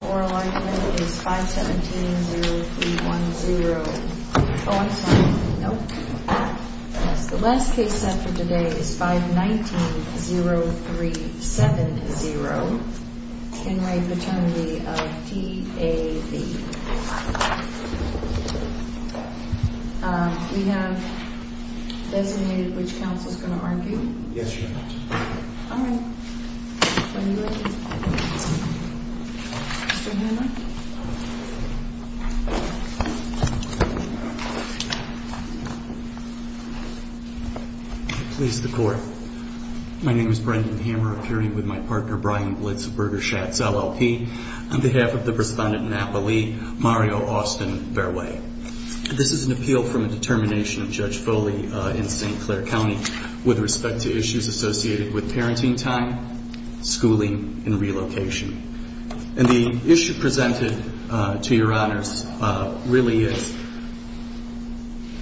Oral argument is 5-17-0-3-1-0. Oh, I'm sorry. Nope. The last case set for today is 5-19-0-3-7-0. In re Paternity of T.A.V. We have designated which counsel is going to argue. Yes, Your Honor. All right. When you are ready. Mr. Hammer. I please the court. My name is Brendan Hammer, appearing with my partner Brian Blitz of Berger Schatz LLP. On behalf of the respondent Napa Lee, Mario Austin Fairway. This is an appeal from a determination of Judge Foley in St. Clair County. With respect to issues associated with parenting time, schooling, and relocation. And the issue presented to Your Honors really is.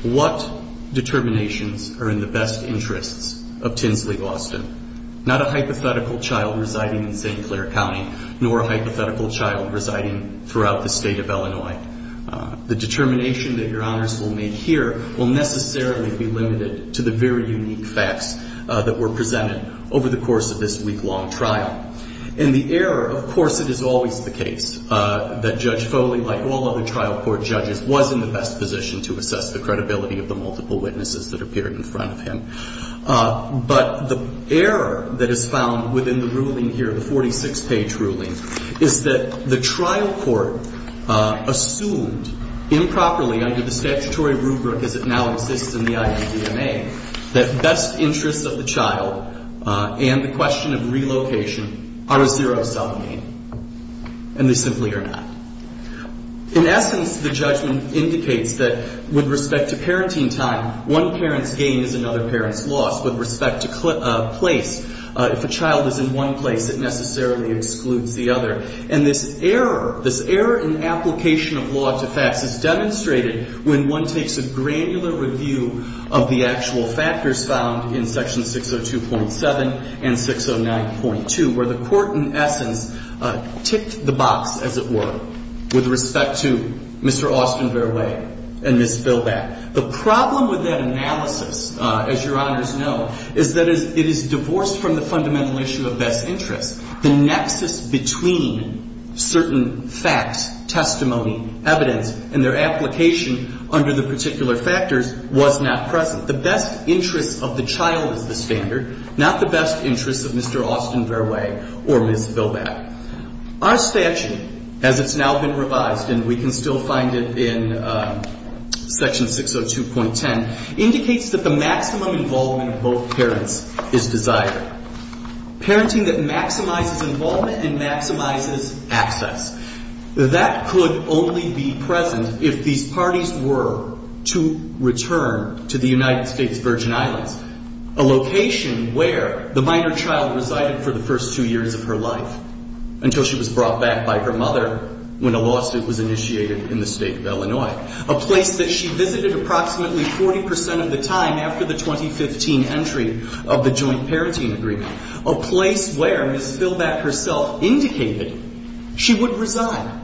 What determinations are in the best interests of Tinsley Austin? Not a hypothetical child residing in St. Clair County. Nor a hypothetical child residing throughout the state of Illinois. The determination that Your Honors will make here will necessarily be limited to the very unique facts. That were presented over the course of this week long trial. And the error, of course it is always the case. That Judge Foley, like all other trial court judges. Was in the best position to assess the credibility of the multiple witnesses that appeared in front of him. But the error that is found within the ruling here. The 46 page ruling. Is that the trial court assumed. Improperly under the statutory rubric as it now exists in the IADMA. That best interests of the child. And the question of relocation. Are a zero sum game. And they simply are not. In essence the judgment indicates that. With respect to parenting time. One parent's gain is another parent's loss. With respect to place. If a child is in one place. It necessarily excludes the other. And this error. This error in application of law to facts. Is demonstrated. When one takes a granular review. Of the actual factors found. In section 602.7. And 609.2. Where the court in essence. Ticked the box as it were. With respect to. Mr. Austin Fairway. And Ms. Billback. The problem with that analysis. As your honors know. Is that it is divorced from the fundamental issue of best interests. The nexus between. Certain facts. Testimony. Evidence. And their application. Under the particular factors. Was not present. The best interest of the child is the standard. Not the best interest of Mr. Austin Fairway. Or Ms. Billback. Our statute. As it's now been revised. And we can still find it in. Section 602.10. Indicates that the maximum involvement of both parents. Is desired. Parenting that maximizes involvement. And maximizes access. That could only be present. If these parties were. To return to the United States Virgin Islands. A location where. The minor child resided for the first two years of her life. Until she was brought back by her mother. When a lawsuit was initiated in the state of Illinois. A place that she visited approximately 40% of the time. After the 2015 entry. Of the joint parenting agreement. A place where Ms. Billback herself indicated. She would reside.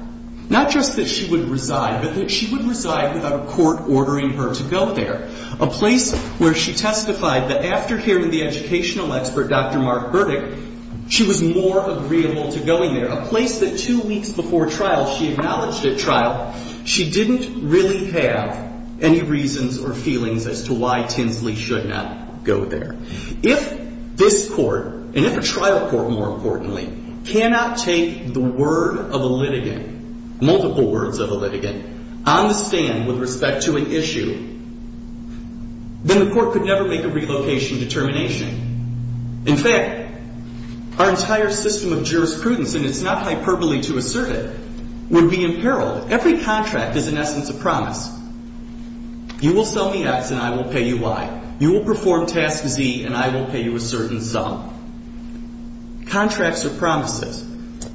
Not just that she would reside. But that she would reside without a court ordering her to go there. A place where she testified that after hearing the educational expert. Dr. Mark Burdick. She was more agreeable to going there. A place that two weeks before trial. She acknowledged at trial. She didn't really have. Any reasons or feelings as to why Tinsley should not go there. If this court. And if a trial court more importantly. Cannot take the word of a litigant. Multiple words of a litigant. On the stand with respect to an issue. Then the court could never make a relocation determination. In fact. Our entire system of jurisprudence. And it's not hyperbole to assert it. Would be in peril. Every contract is in essence a promise. You will sell me X and I will pay you Y. You will perform task Z and I will pay you a certain sum. Contracts are promises.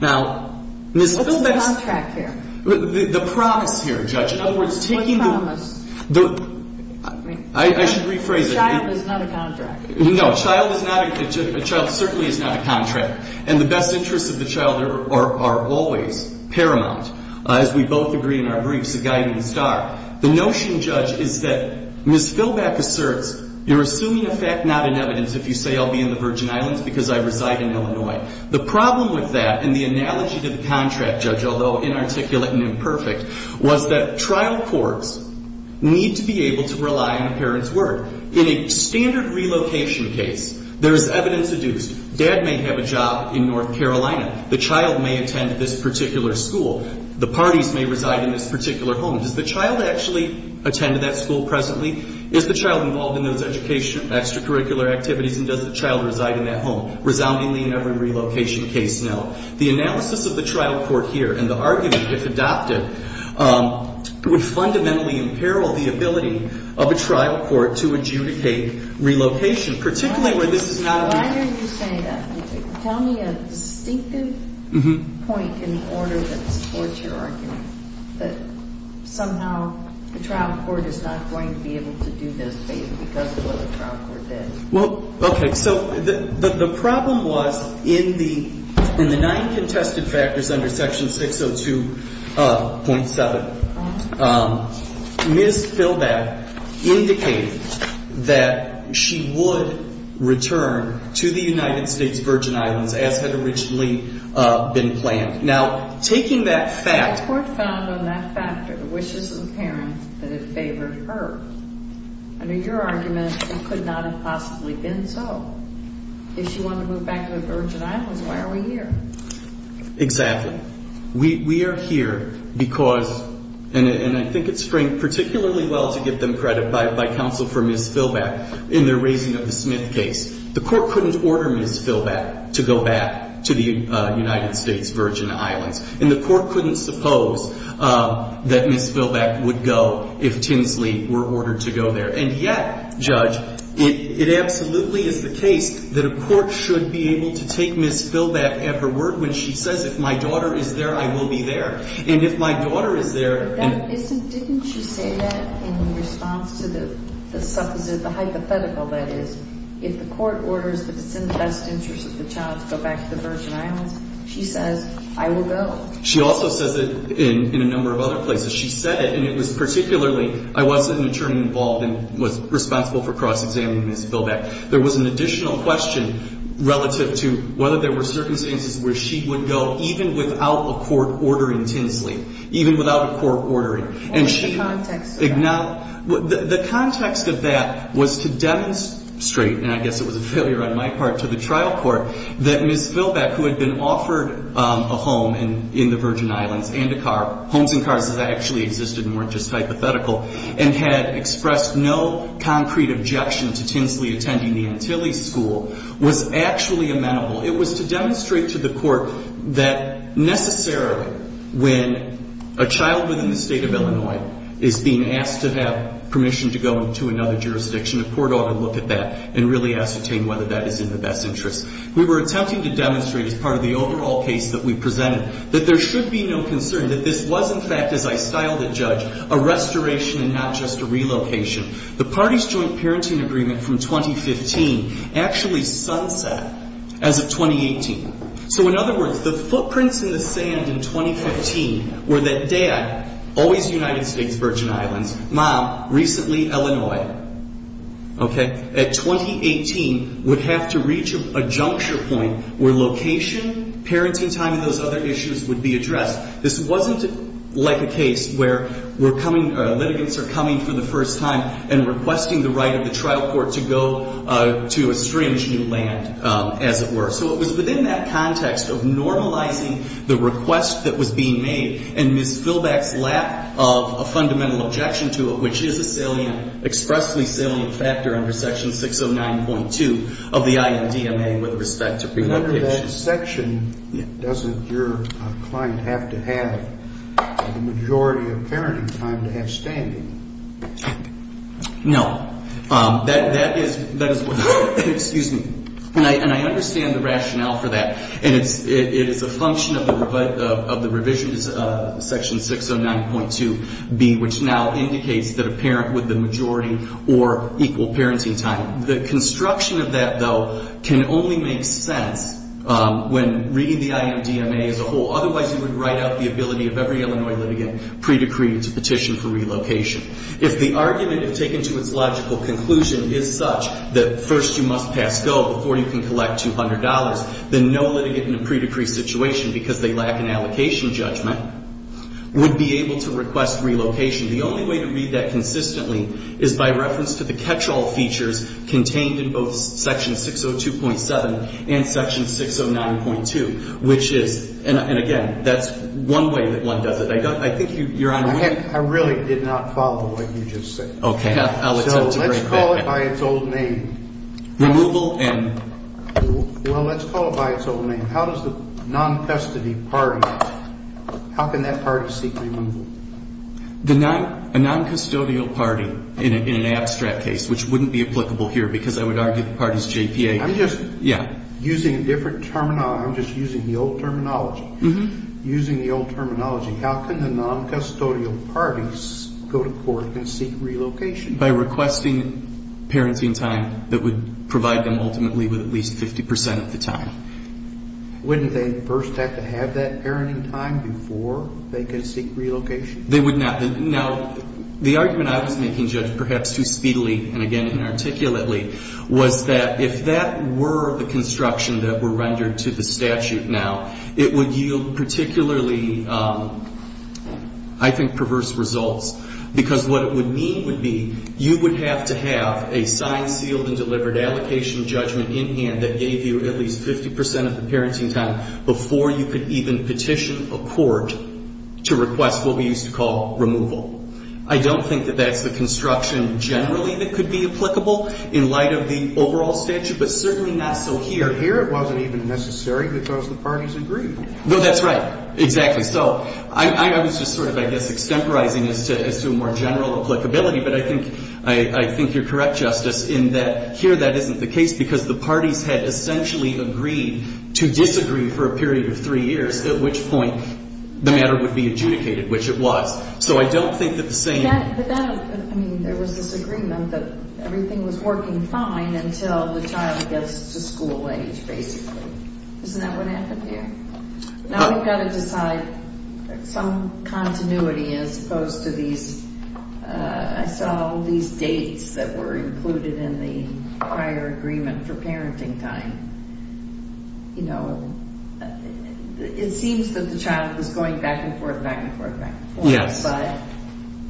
Now. What's the contract here? The promise here, Judge. What promise? I should rephrase it. A child is not a contract. No. A child certainly is not a contract. And the best interests of the child are always paramount. As we both agree in our briefs. The guiding star. The notion, Judge, is that. Ms. Filback asserts. You're assuming a fact, not an evidence. If you say I'll be in the Virgin Islands because I reside in Illinois. The problem with that. And the analogy to the contract, Judge. Although inarticulate and imperfect. Was that trial courts. Need to be able to rely on a parent's word. In a standard relocation case. There's evidence adduced. Dad may have a job in North Carolina. The child may attend this particular school. The parties may reside in this particular home. Does the child actually attend that school presently? Is the child involved in those education extracurricular activities? And does the child reside in that home? Resoundingly in every relocation case now. The analysis of the trial court here. And the argument, if adopted. Would fundamentally imperil the ability. Of a trial court to adjudicate relocation. Particularly where this is not. Why are you saying that? Tell me a distinctive. Point in order that supports your argument. That somehow. The trial court is not going to be able to do this. Because of what the trial court did. Well, okay. So the problem was. In the. In the nine contested factors under section 602.7. Ms. Philbeth. Indicated. That. She would. Return. To the United States Virgin Islands. As had originally. Been planned. Now. Taking that fact. Found on that factor. The wishes of the parents. That it favored her. Under your argument. It could not have possibly been so. If she wanted to move back to the Virgin Islands. Why are we here? Exactly. We are here. Because. And I think it's framed particularly well. To give them credit. By counsel for Ms. Philbeth. In their raising of the Smith case. The court couldn't order Ms. Philbeth. To go back. To the United States Virgin Islands. And the court couldn't suppose. That Ms. Philbeth would go. If Tinsley were ordered to go there. And yet. Judge. It absolutely is the case. That a court should be able to take Ms. Philbeth at her word. When she says. If my daughter is there. I will be there. And if my daughter is there. Didn't she say that. In response to the. The suppositive. The hypothetical. That is. If the court orders. That it's in the best interest of the child. To go back to the Virgin Islands. She says. I will go. She also says it. In. In a number of other places. She said it. And it was particularly. I was an attorney involved. And was responsible for cross-examining Ms. Philbeth. There was an additional question. Relative to. Whether there were circumstances. Where she would go. Even without a court ordering Tinsley. Even without a court ordering. And she. What was the context of that? The context of that. Was to demonstrate. And I guess it was a failure on my part. To the trial court. That Ms. Philbeth. Who had been offered. A home. In the Virgin Islands. And a car. Homes and cars. That actually existed. And weren't just hypothetical. And had expressed no. Concrete objection. To Tinsley attending the Antilles school. Was actually amenable. It was to demonstrate to the court. That necessarily. When. A child within the state of Illinois. Is being asked to have. Permission to go into another jurisdiction. A court ought to look at that. And really ascertain. Whether that is in the best interest. We were attempting to demonstrate. As part of the overall case that we presented. That there should be no concern. That this was in fact. As I styled the judge. A restoration. And not just a relocation. The parties joint parenting agreement. From 2015. Actually sunset. As of 2018. So in other words. The footprints in the sand. In 2015. Were that dad. Always United States Virgin Islands. Mom. Recently Illinois. Okay. At 2018. Would have to reach. A juncture point. Where location. Parenting time. And those other issues. Would be addressed. This wasn't. Like a case. Where. We're coming. Litigants are coming. For the first time. And requesting the right. Of the trial court. To go. To a strange new land. As it were. So it was within that context. Of normalizing. The request. That was being made. In Ms. Philbeck's lap. Of a fundamental objection to it. Which is a salient. Expressly salient. Factor. Under section 609.2. Of the INDMA. With respect to. Remember that section. Yeah. Doesn't your. Client have to have. The majority of parenting. Time to have standing. No. That is. That is what. Excuse me. And I. And I understand the rationale. For that. And it's. It is a function. Section 609.2. B. Which now indicates. That a parent. With the majority. Or equal parenting time. The construction. Of the revisions. Is that. That. Though. Can only make sense. When. Read the INDMA. As a whole. Otherwise. You would write out the ability. Of every Illinois litigant. Pre-decree. To petition for relocation. If the argument. Is taken to its logical conclusion. Is such. That first. You must pass go. Before you can collect. Two hundred dollars. Then no litigant. In a pre-decree situation. Because they lack. An allocation judgment. Would be able. To request relocation. The only way. To read that. Consistently. Is by reference. To the catch-all features. Contained in both. Section 602.7. And section 609.2. Which is. And again. That's. One way. That one does it. I don't. I think you. You're on. I really did not follow. What you just said. Okay. So let's call it. By its old name. Removal. And. Well let's call it. By its old name. How does the. Non-festive. Party. How can that party. Seek removal. The non. A non-custodial party. In an abstract case. Which wouldn't be applicable. Here because I would argue the parties. JPA. I'm just. Yeah. Using a different terminology. I'm just using the old terminology. Using the old terminology. How can the non-custodial. Parties. Go to court. And seek relocation. By requesting. Parenting time. That would. Provide them ultimately. With at least 50 percent. Of the time. Wouldn't they. First have to have that. Parenting time. Before. They can seek relocation. They would not. Now. The argument I was making. Judge. Perhaps too speedily. And again. Inarticulate. Was that. If that were. The construction. That were rendered. To the statute. Now. It would yield. Particularly. I think. Perverse results. Because. What it would mean. Would be. You would have to have. A signed. Sealed. And delivered. Allocation. Judgment. In hand. That gave you. At least 50 percent. Of the parenting time. Before you could even. Petition. A court. To request. What we used to call. Removal. I don't think. That that's the construction. Generally. That could be applicable. In light of the overall. Statute. But certainly. Not so here. Here. It wasn't even necessary. Because the parties. Agreed. No. That's right. Exactly. So. I was just sort of. I guess. Extemporizing. As to. As to a more general. Applicability. But I think. I think. You're correct. Justice. In that. Here. That isn't the case. Because the parties. Had essentially. Agreed. To disagree. For a period. Of three years. At which point. The matter would be adjudicated. Which it was. So I don't think. That the same. I mean. There was this agreement. That everything was working. Fine. Until the child gets. To school age. Basically. Isn't that what happened here. Now. We've got to decide. Some. Continuity. As opposed to these. I saw. All these. Dates. That were included. In the. Prior agreement. For parenting time. You know. It seems. That the child. Was going back and forth. Back and forth. Back and forth. Yes. But.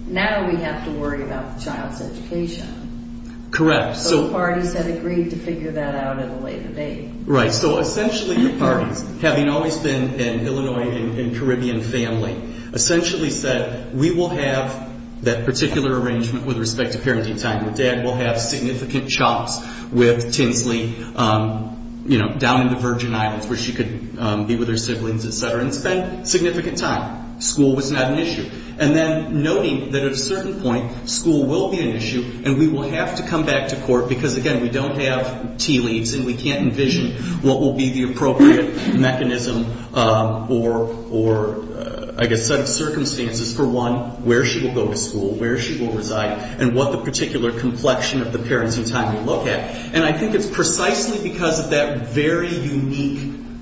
Now. We have to worry about. The child's education. Correct. So the parties. Had agreed. To figure that out. At a later date. Right. So essentially. The parties. Having always been. In Illinois. In Caribbean family. Essentially said. We will have. That particular arrangement. With respect to parenting time. Your dad will have. Significant chops. With. Tinsley. You know. Down in the Virgin Islands. Where she could. Be with her siblings. Et cetera. And spend. Significant time. School was not an issue. And then. Noting. That at a certain point. School will be an issue. And we will have to come back to court. Because again. We don't have. Tea leaves. And we can't envision. What will be the appropriate. Mechanism. Or. Or. I guess. Set of circumstances. For one. Where she will go to school. Where she will reside. And what the particular complexion. Of the parenting time. You look at. And I think it's precisely. Because of that. Very unique.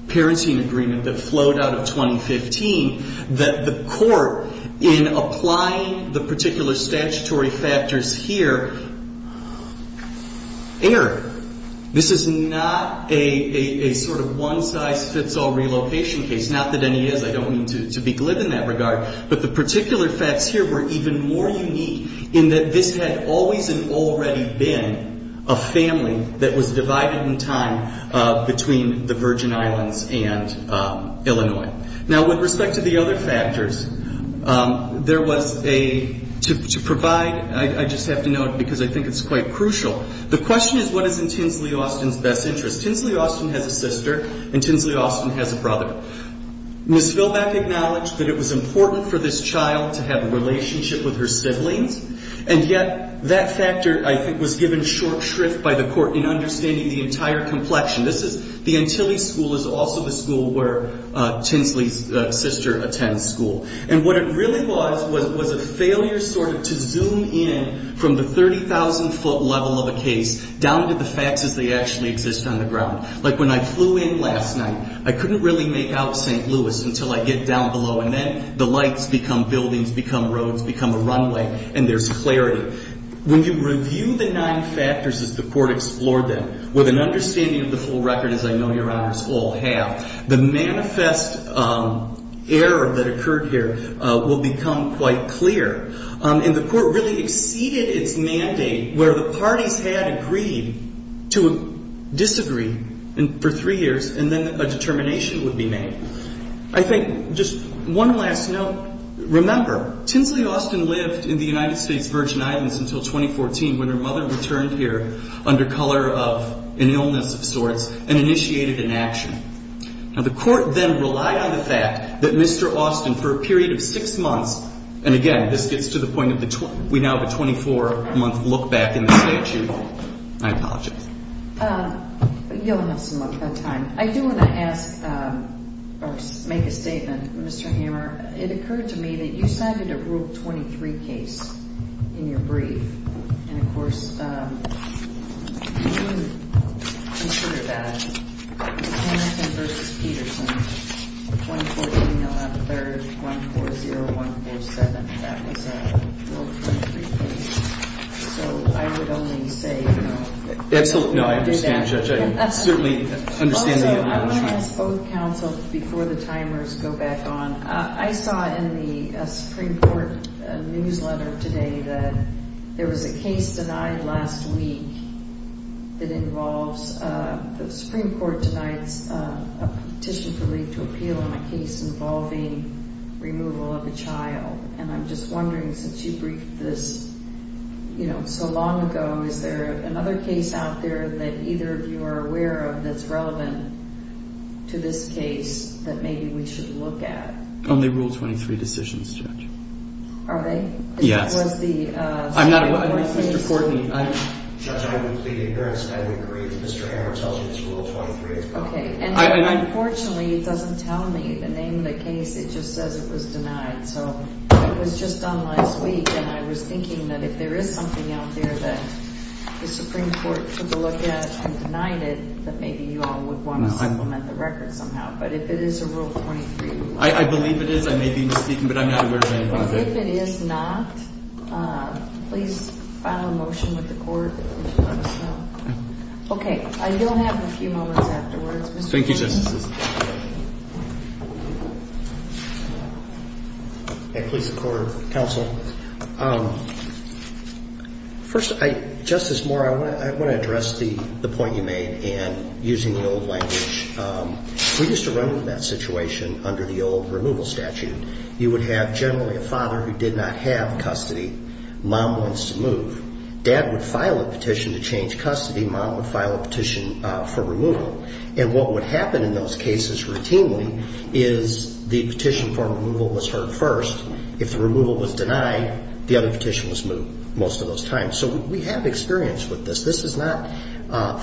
Parenting agreement. That flowed out of 2015. That the court. In applying. The particular statutory factors. Here. Error. This is not. A sort of one size fits all relocation case. Not that any is. In that. This is a. This is a. This is a. This is a. This is a. This is a. This is a. This is a. This is a. This is a. Twin. Oh. Oh. This is a test. Ok how much. Speak of the devil. Very. Rigorousness. It's very sin. Wow. Now what respect to the other factors. There was. A. To provide. I just have to note. This is important because I think it's quite crucial. The question is what is in Tinsley Austin's best interest. Tinsley Austin has a sister. And Tinsley Austin has a brother. Ms. Philbeck acknowledged that it was important for this child to have a relationship with her siblings. And yet. That factor I think was given short shrift by the court in understanding the entire complexion. This is. The Antilles school is also the school where Tinsley's sister attends school. To the 30 year old. To the 30 year old. To the 30 year old. To the 30 year old. To the 30 year old. Where we sit today. In a time and date. Where the parties had agreed to disagree. And three years. And, then, a determination would be made. I think just one last note. Remember. Tinsley Austin lived in the United States Virgin Islands until 2014. When her mother returned here under color of. An illness of sorts. And initiated an action. Now the court then relied on the fact that Mr. Austin for a period of six months. And again. This gets to the point of. We now have a 24 month look back in the statute. I apologize. You'll have some more time. I do want to ask. Or make a statement. Mr. Hammer. It occurred to me. That you cited a rule 23 case. In your brief. And of course. You. Consider that. 1-4-0-1-4-3. 1-4-0-1-4-3. 1-4-0-1-4-3. 1-4-0-1-4-3-4. 1-4-0-1-4-3-4-3-5-6-7. 1-4-0-1-4-1-4-3. 1-4-0-1-4-1-4-3-5-6-7. So I would only say. Absolutely. No, I originally. Ambassador. Certainly understanding. Oh, counts before the timers go back on. I saw in the Supreme Court newsletter today. That there was a case. Last week. It involves the Supreme Court tonight's. Petition to leave to appeal. On a. Case involving. Removal of a. Child. And. And I'm just wondering. Since you. This. You know. So long ago. Is there. Another case out there. That either of you are aware of. That's relevant. To this case. That maybe we should. Look at. Only rule 23 decisions. Judge. Are they? Yes. Was the. I'm not. Mr. Courtney. I. Judge. I would plead. Ignorance. And I would agree. Mr. Hammer tells me. It's rule 23. It's. OK. And. Unfortunately. It doesn't tell me. The name of the case. It just says. It was denied. So. It was just done. Last week. And I was thinking. That if there is something out there. That the Supreme Court. Took a look at. And denied it. That maybe you all. Would want to. Implement the record. Somehow. But if it is a rule. 23. I believe it is. I may be. Speaking. But I'm not aware. If it is not. Please. File a motion. With the court. OK. I don't have. A few moments. Afterwards. Thank you. Just. Please. The court. Counsel. First. I. Justice. Moore. I want. To address. The point you made. And. Using the old language. We used to run. With that situation. Under the old. Removal statute. You would have. Generally a father. Who did not have. Custody. Mom wants to move. Dad would file. A petition. To change custody. Mom would file. A petition. For removal. And what would happen. In those cases. Routinely. Is. The petition. For removal. Was heard. First. If the removal. Was denied. The other petition. Was moved. Most of those times. So. We have experience. With this. This is not.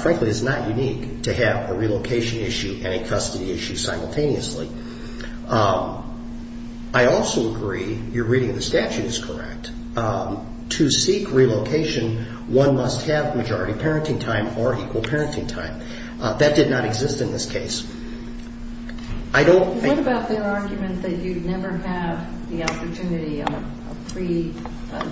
Frankly. It's not unique. To have. A relocation issue. And a custody issue. Simultaneously. I also agree. You're reading. The statute is correct. To seek relocation. One must have. Majority parenting time. Or equal parenting time. That did not exist. In this case. I don't. What about their argument. That you'd never have. The opportunity. Of free.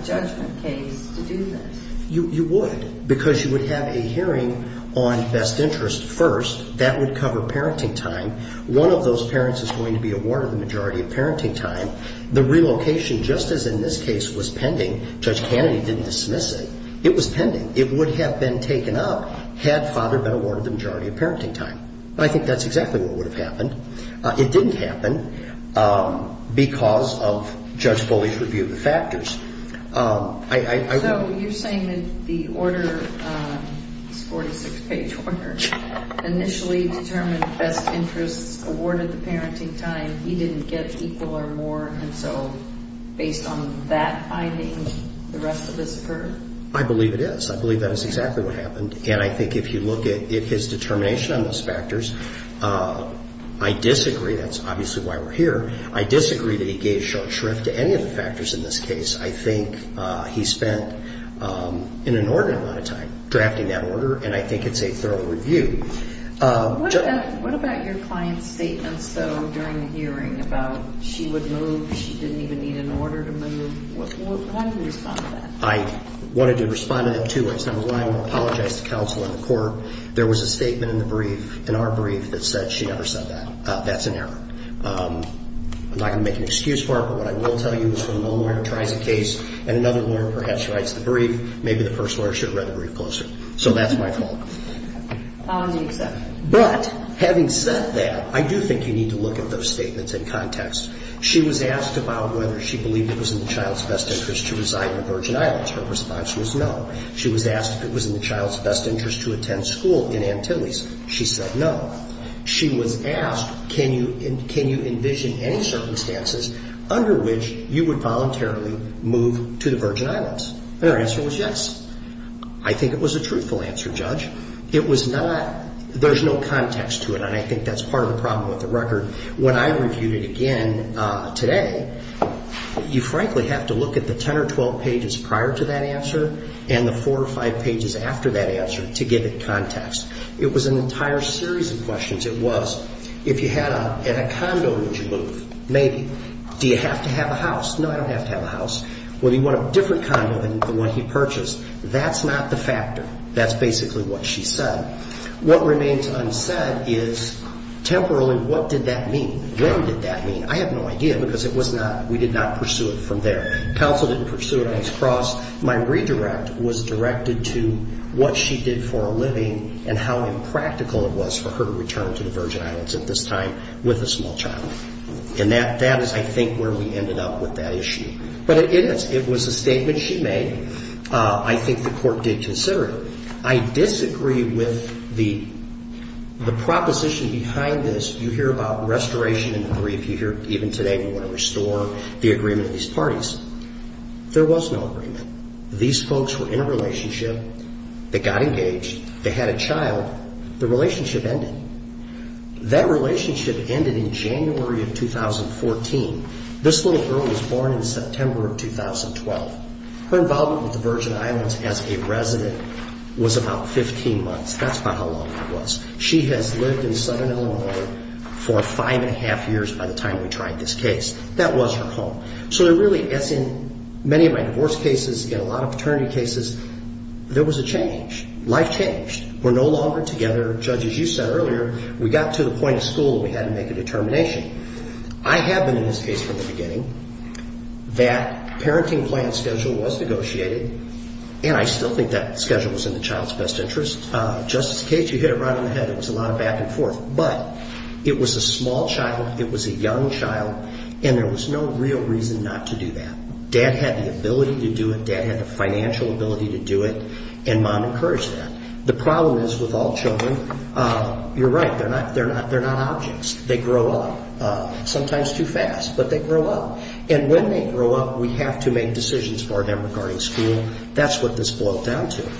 Judgment case. To do this. You would. Because you would have. A hearing. On best interest. First. That would cover. Parenting time. One of those parents. Is going to be awarded. The majority of parenting time. The relocation. Just as in this case. Was pending. Judge Kennedy. Didn't dismiss it. It was pending. It would have been. Taken up. Had father been awarded. The majority of parenting time. I think that's exactly. What would have happened. It didn't happen. Because of. Judge Foley's. Review of the factors. I. You're saying. That the order. Is 46 page. Order. Initially. Determined. Best interest. Awarded. The parenting time. He didn't get. Equal or more. And so. Based on. That. I think. The rest. Of this. I believe. It is. I believe. That is exactly. What happened. And I think. If you look at. His determination. On those factors. I disagree. That's obviously. Why we're here. I disagree. That he gave. Short shrift. To any of the factors. In this case. I think. He spent. An inordinate. Amount of time. Drafting that order. And I think. It's a thorough review. What about. Your client's statements. During the hearing. About. She would move. If she didn't even. Need an order. To move. I. Wanted. To respond. To. Apologize. To counsel. In the court. There was a statement. In the brief. In our brief. That said. She never said that. That's an error. I'm not going to make. An excuse for it. But what I will tell you. Is when one lawyer. Tries a case. And another lawyer. Perhaps writes the brief. Maybe the first lawyer. Should have read the brief. Closer. So that's my fault. But. Having said that. I do think you need. To look at those statements. In context. She was asked. About whether she believed. It was in the child's. Best interest. To resign. In the Virgin Islands. Her response was no. She was asked. If it was in the child's. Best interest. To attend school. In Antilles. She said no. She was asked. Can you. Can you envision. Any circumstances. Under which. You would voluntarily. Move. To the Virgin Islands. And her answer was yes. I think it was a truthful answer. Judge. It was not. There's no context. To it. And I think that's part of the problem. With the record. When I reviewed it. Again. Today. You frankly have to look. At the ten or twelve pages. Prior to that answer. And the four or five pages. After that answer. To give it context. It was an entire series. Of questions. It was. If you had a. In a condo. Would you move. Maybe. Do you have to have a house. No. I don't have to have a house. Well. You want a different condo. Than the one he purchased. That's not the factor. That's basically. What she said. What remains. Unsaid. Is. Temporally. What did that mean. When did that mean. I have no idea. Because it was not. We did not pursue it. From there. Counsel didn't pursue it. On its cross. My redirect. Was directed to. What she did for a living. And how impractical. It was for her. To return. To the Virgin Islands. At this time. With a small child. And that. That is I think. Where we ended up. With that issue. But it is. It was a statement she made. I think the court. Did consider it. I disagree. I disagree. With the. The proposition. Behind this. You hear about. Restoration. And grief. You hear. Even today. We want to restore. The agreement. These parties. There was no agreement. These folks. Were in a relationship. They got engaged. They had a child. The relationship. Ended. That relationship. Ended in January. Of 2014. This little girl. Was born in September. Of 2012. Her involvement. With the Virgin Islands. As a resident. Was about. 15 months. That's about. How long. It was. She has lived in Southern Illinois. For five and a half years. By the time. We tried. This case. That was her home. So there really. As in. Many of my divorce cases. In a lot of paternity cases. There was a change. Life changed. We're no longer together. Judge. As you said earlier. We got to the point. Of school. We had to make a determination. I have been. In this case. From the beginning. That. Parenting plan. Schedule. Was negotiated. And I still think. That schedule. Was in the child's best interest. Just in case. You hit it right on the head. It was a lot of back and forth. But. It was a small child. It was a young child. And there was no real reason. Not to do that. Dad had the ability. To do it. Dad had the financial ability. To do it. And mom encouraged that. The problem is. With all children. You're right. They're not. They're not. They're not objects. They grow up. Sometimes too fast. But they grow up. And when they grow up. We have to make decisions. For them. Regarding school. That's what this boils down to.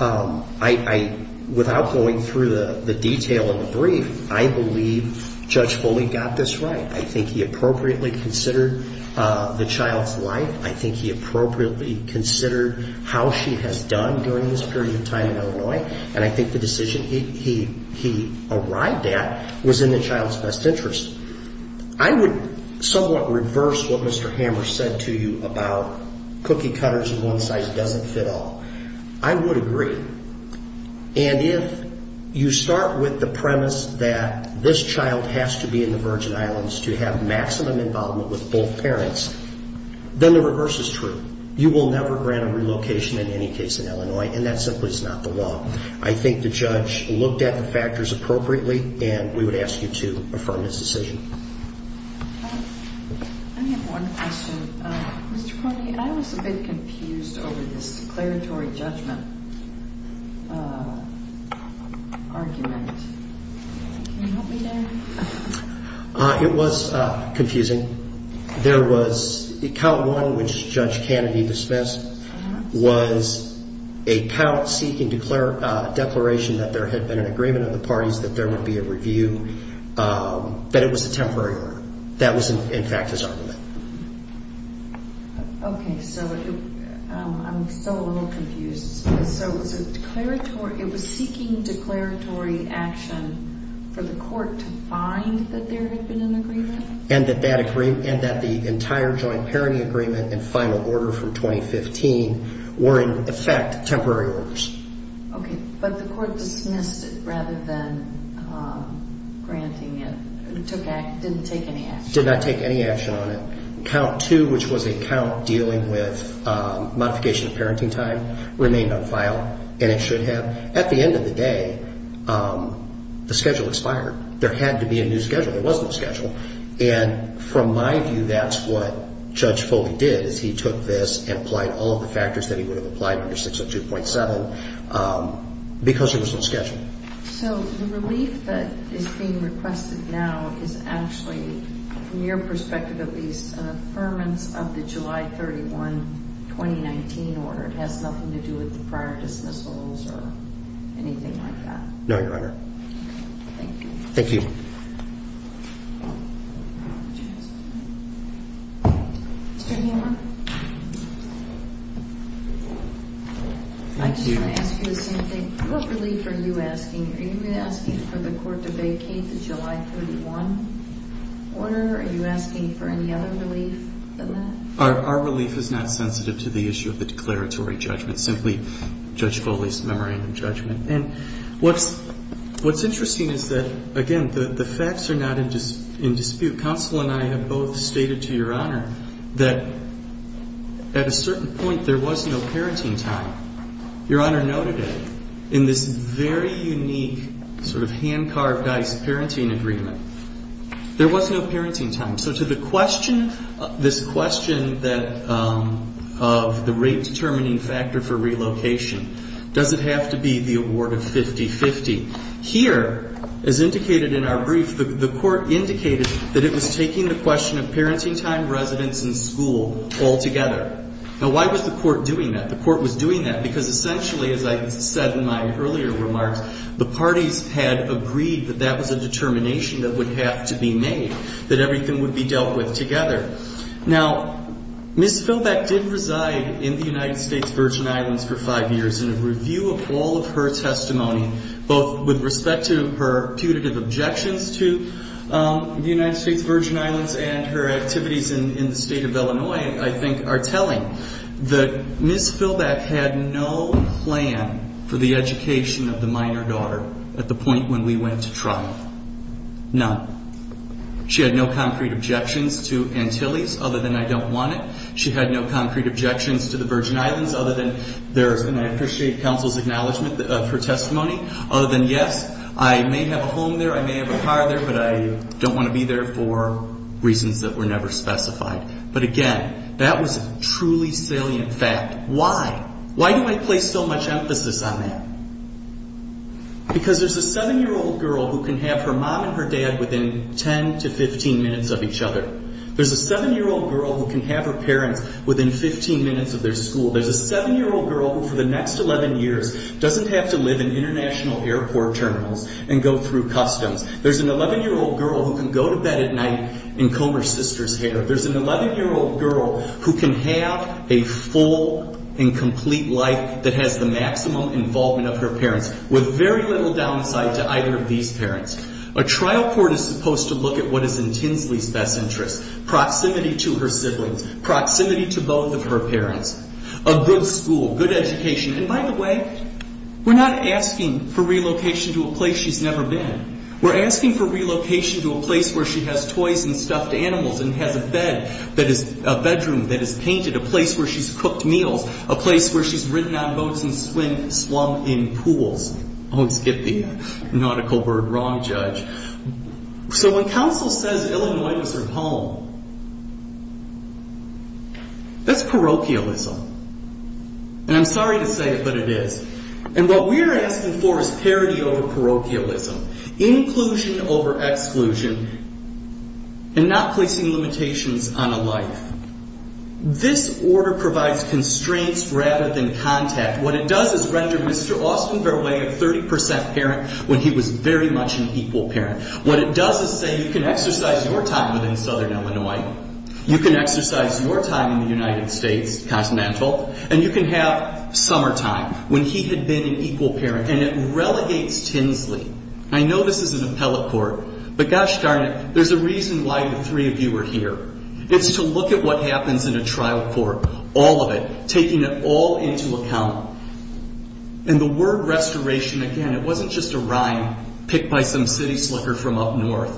I. Without going through. The detail. Of the brief. I believe. Judge Foley. Got this right. I think he appropriately. Considered. The child's life. I think he appropriately. Considered. How she has done. During this period of time. In Illinois. And I think the decision. He. He. Arrived at. Was in the child's best interest. I would. Somewhat reverse. What Mr. Hammer. Said to you. About. Cookie cutters. On one side. Doesn't fit all. I would agree. And if. You start. With the premise. That this child. Has to be in the Virgin Islands. To have maximum involvement. With both parents. Then the reverse. Is true. You will never. Grant a relocation. In any case. In Illinois. And that simply. Is not the law. I think the judge. Looked at the factors. Appropriately. And we would ask you to. Affirm his decision. I have one question. Mr. Foley. I was a bit. Confused. Over. This. Declaratory. Judgment. Argument. It was. Confusing. There was. A count. One which. Judge Kennedy. Dismissed. Was. A count. Seeking. Declare. A declaration. That there had been. That there would be a review. But it was a temporary. That was. In fact. His argument. Okay. So. I'm. I'm. I'm. Still. A little. Confused. So. Was it. Declaratory. It was. Seeking. Declaratory. Action. For the court. To. Find. That there had been. An agreement. And that. That agree. And that the. Entire. Joint. Parity. Agreement. And final. Order from. Twenty. Fifteen. Were in. Effect. Temporary. Orders. Okay. But the court. Dismissed it. Rather than. Granting it. Took action. Didn't take any action. Did not take any action. On it. Count. Two. Which was a count. Dealing with. Modification. Of parenting time. Remained on file. And it should have. At the end of the day. The schedule expired. There had to be a new schedule. There was no schedule. And. From my view. That's what. Judge Foley did. Is he took this. And applied all of the factors. That he would have applied. To the statute. At two point seven. Because there was no schedule. So the relief. That is being requested. Now it's actually. From your perspective. At least an affirmance. Of the July thirty one. Twenty nineteen. Order. It has nothing to do with the prior dismissals. Or anything like. No. Your Honor. Okay. Thank you. Thank you. Mr. Hammer. Right. I. Be. Here. Yes. Thank you. I. Ask you the same thing. What relief are you asking? Are you asking for the court to vacate the July thirty one. Order. Are you asking for any other relief. Than that. Our. Our relief is not sensitive to the issue of the declaratory judgment. Simply. Judge Foley's memorandum judgment. And. What's. What's interesting is that. Again. That. At a certain point. There was no parenting time. And. And. And. And. And. And. And. And. And. And. And. And. And. And. And. And. And. And the. And. And. And f. And hydrocephaly. And. And. And. And. And. And. And. And because I think. Everything we can do. To the United States Virgin Islands and her activities in the state of Illinois I think are telling that Ms. Philbeck had no plan for the education of the minor daughter at the point when we went to trial. None. She had no concrete objections to Antilles other than I don't want it. She had no concrete objections to the Virgin Islands other than there's, and I appreciate counsel's of her testimony, other than yes, I may have a home there, I may have a car there, but I don't want to be there for reasons that were never specified. But again, that was truly salient fact. Why? Why do I place so much emphasis on that? Because there's a seven year old girl who can have her mom and her dad within 10 to 15 minutes of each other. There's a seven year old girl who can have her parents within 15 minutes of their school. There's a seven year old girl who for the next 11 years doesn't have to live in international airport terminals and go through customs. There's an 11 year old girl who can go to bed at night and comb her sister's hair. There's an 11 year old girl who can have a full and complete life that has the maximum involvement of her parents with very little downside to either of these parents. A trial court is supposed to look at what is in Tinsley's best interest, proximity to her siblings, proximity to both of her parents, a good school, good education. And by the way, we're not asking for relocation to a place she's never been. We're asking for relocation to a place where she has toys and stuffed animals and has a bed that is a bedroom that is painted, a place where she's cooked meals, a place where she's ridden on boats and swam in pools. I always get the nautical word wrong, Judge. So when counsel says Illinois is her home, that's parochialism. And I'm sorry to say it, but it is. And what we're asking for is parity over parochialism. Inclusion over exclusion and not placing limitations on a life. This order provides constraints rather than contact. What it does is render Mr. Austenberle a 30 percent parent when he was very much an equal parent. What it does is say you can exercise your time within southern Illinois. You can exercise your time in the United States, continental, and you can have summertime when he had been an equal parent. And it relegates Tinsley. I know this is an appellate court, but gosh darn it, there's a reason why the three of you are here. It's to look at what And the word restoration, again, it wasn't just a rhyme picked by some city slicker from up north.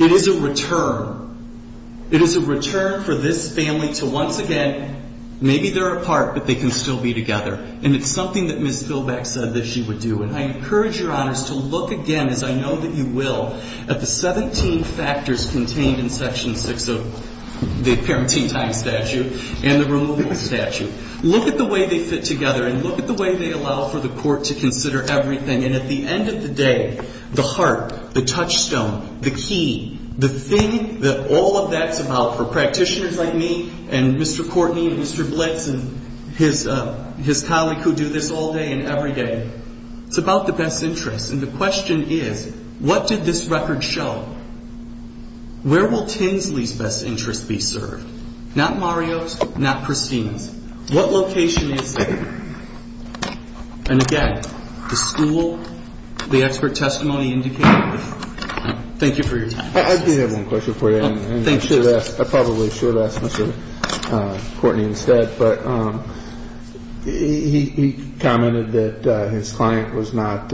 It is a return. It is a return for this family to once again, maybe they're apart, but they can still be together. And it's something that Ms. Bilbeck said that she would do. And I encourage Your Honors to look again, as I know that you will, at the 17 factors contained in Section 6 of the Parenting Time Statute and the Removal Statute. Look at the way they fit together and look at the way they allow for the court to consider everything. And at the end of the day, the heart, the touchstone, the key, the thing that all of that's about for practitioners like me and Mr. Courtney and Mr. Blitz and his colleague who do this all day and every day, it's about the best interests. And the question is, what did this record show? Where will Tinsley's best interests be served? Not Mario's, not Christine's. What location is there? And again, the school, the expert testimony indicated. Thank you for your time. I do have one question for you. Thank you. I probably should have asked Mr. Courtney instead, but he commented that his client was not,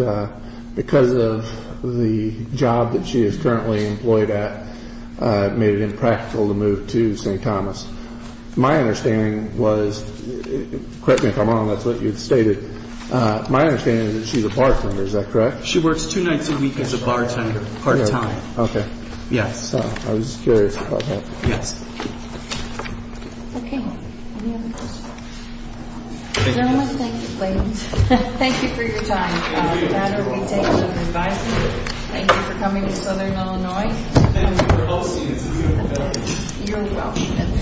because of the job that she is currently employed at, made it impractical to move to St. Thomas. My understanding was, correct me if I'm wrong, that's what you had stated. My understanding is that she's a bartender. Is that correct? She works two nights a week as a bartender part-time. Okay. Yes. I was curious about that. Yes. Okay. Any other questions? Thank you. Thank you, ladies. Thank you for your time. Thank you. That will be taken as an advisory. Thank you for coming to Southern Illinois. Thank you for hosting us. You're welcome.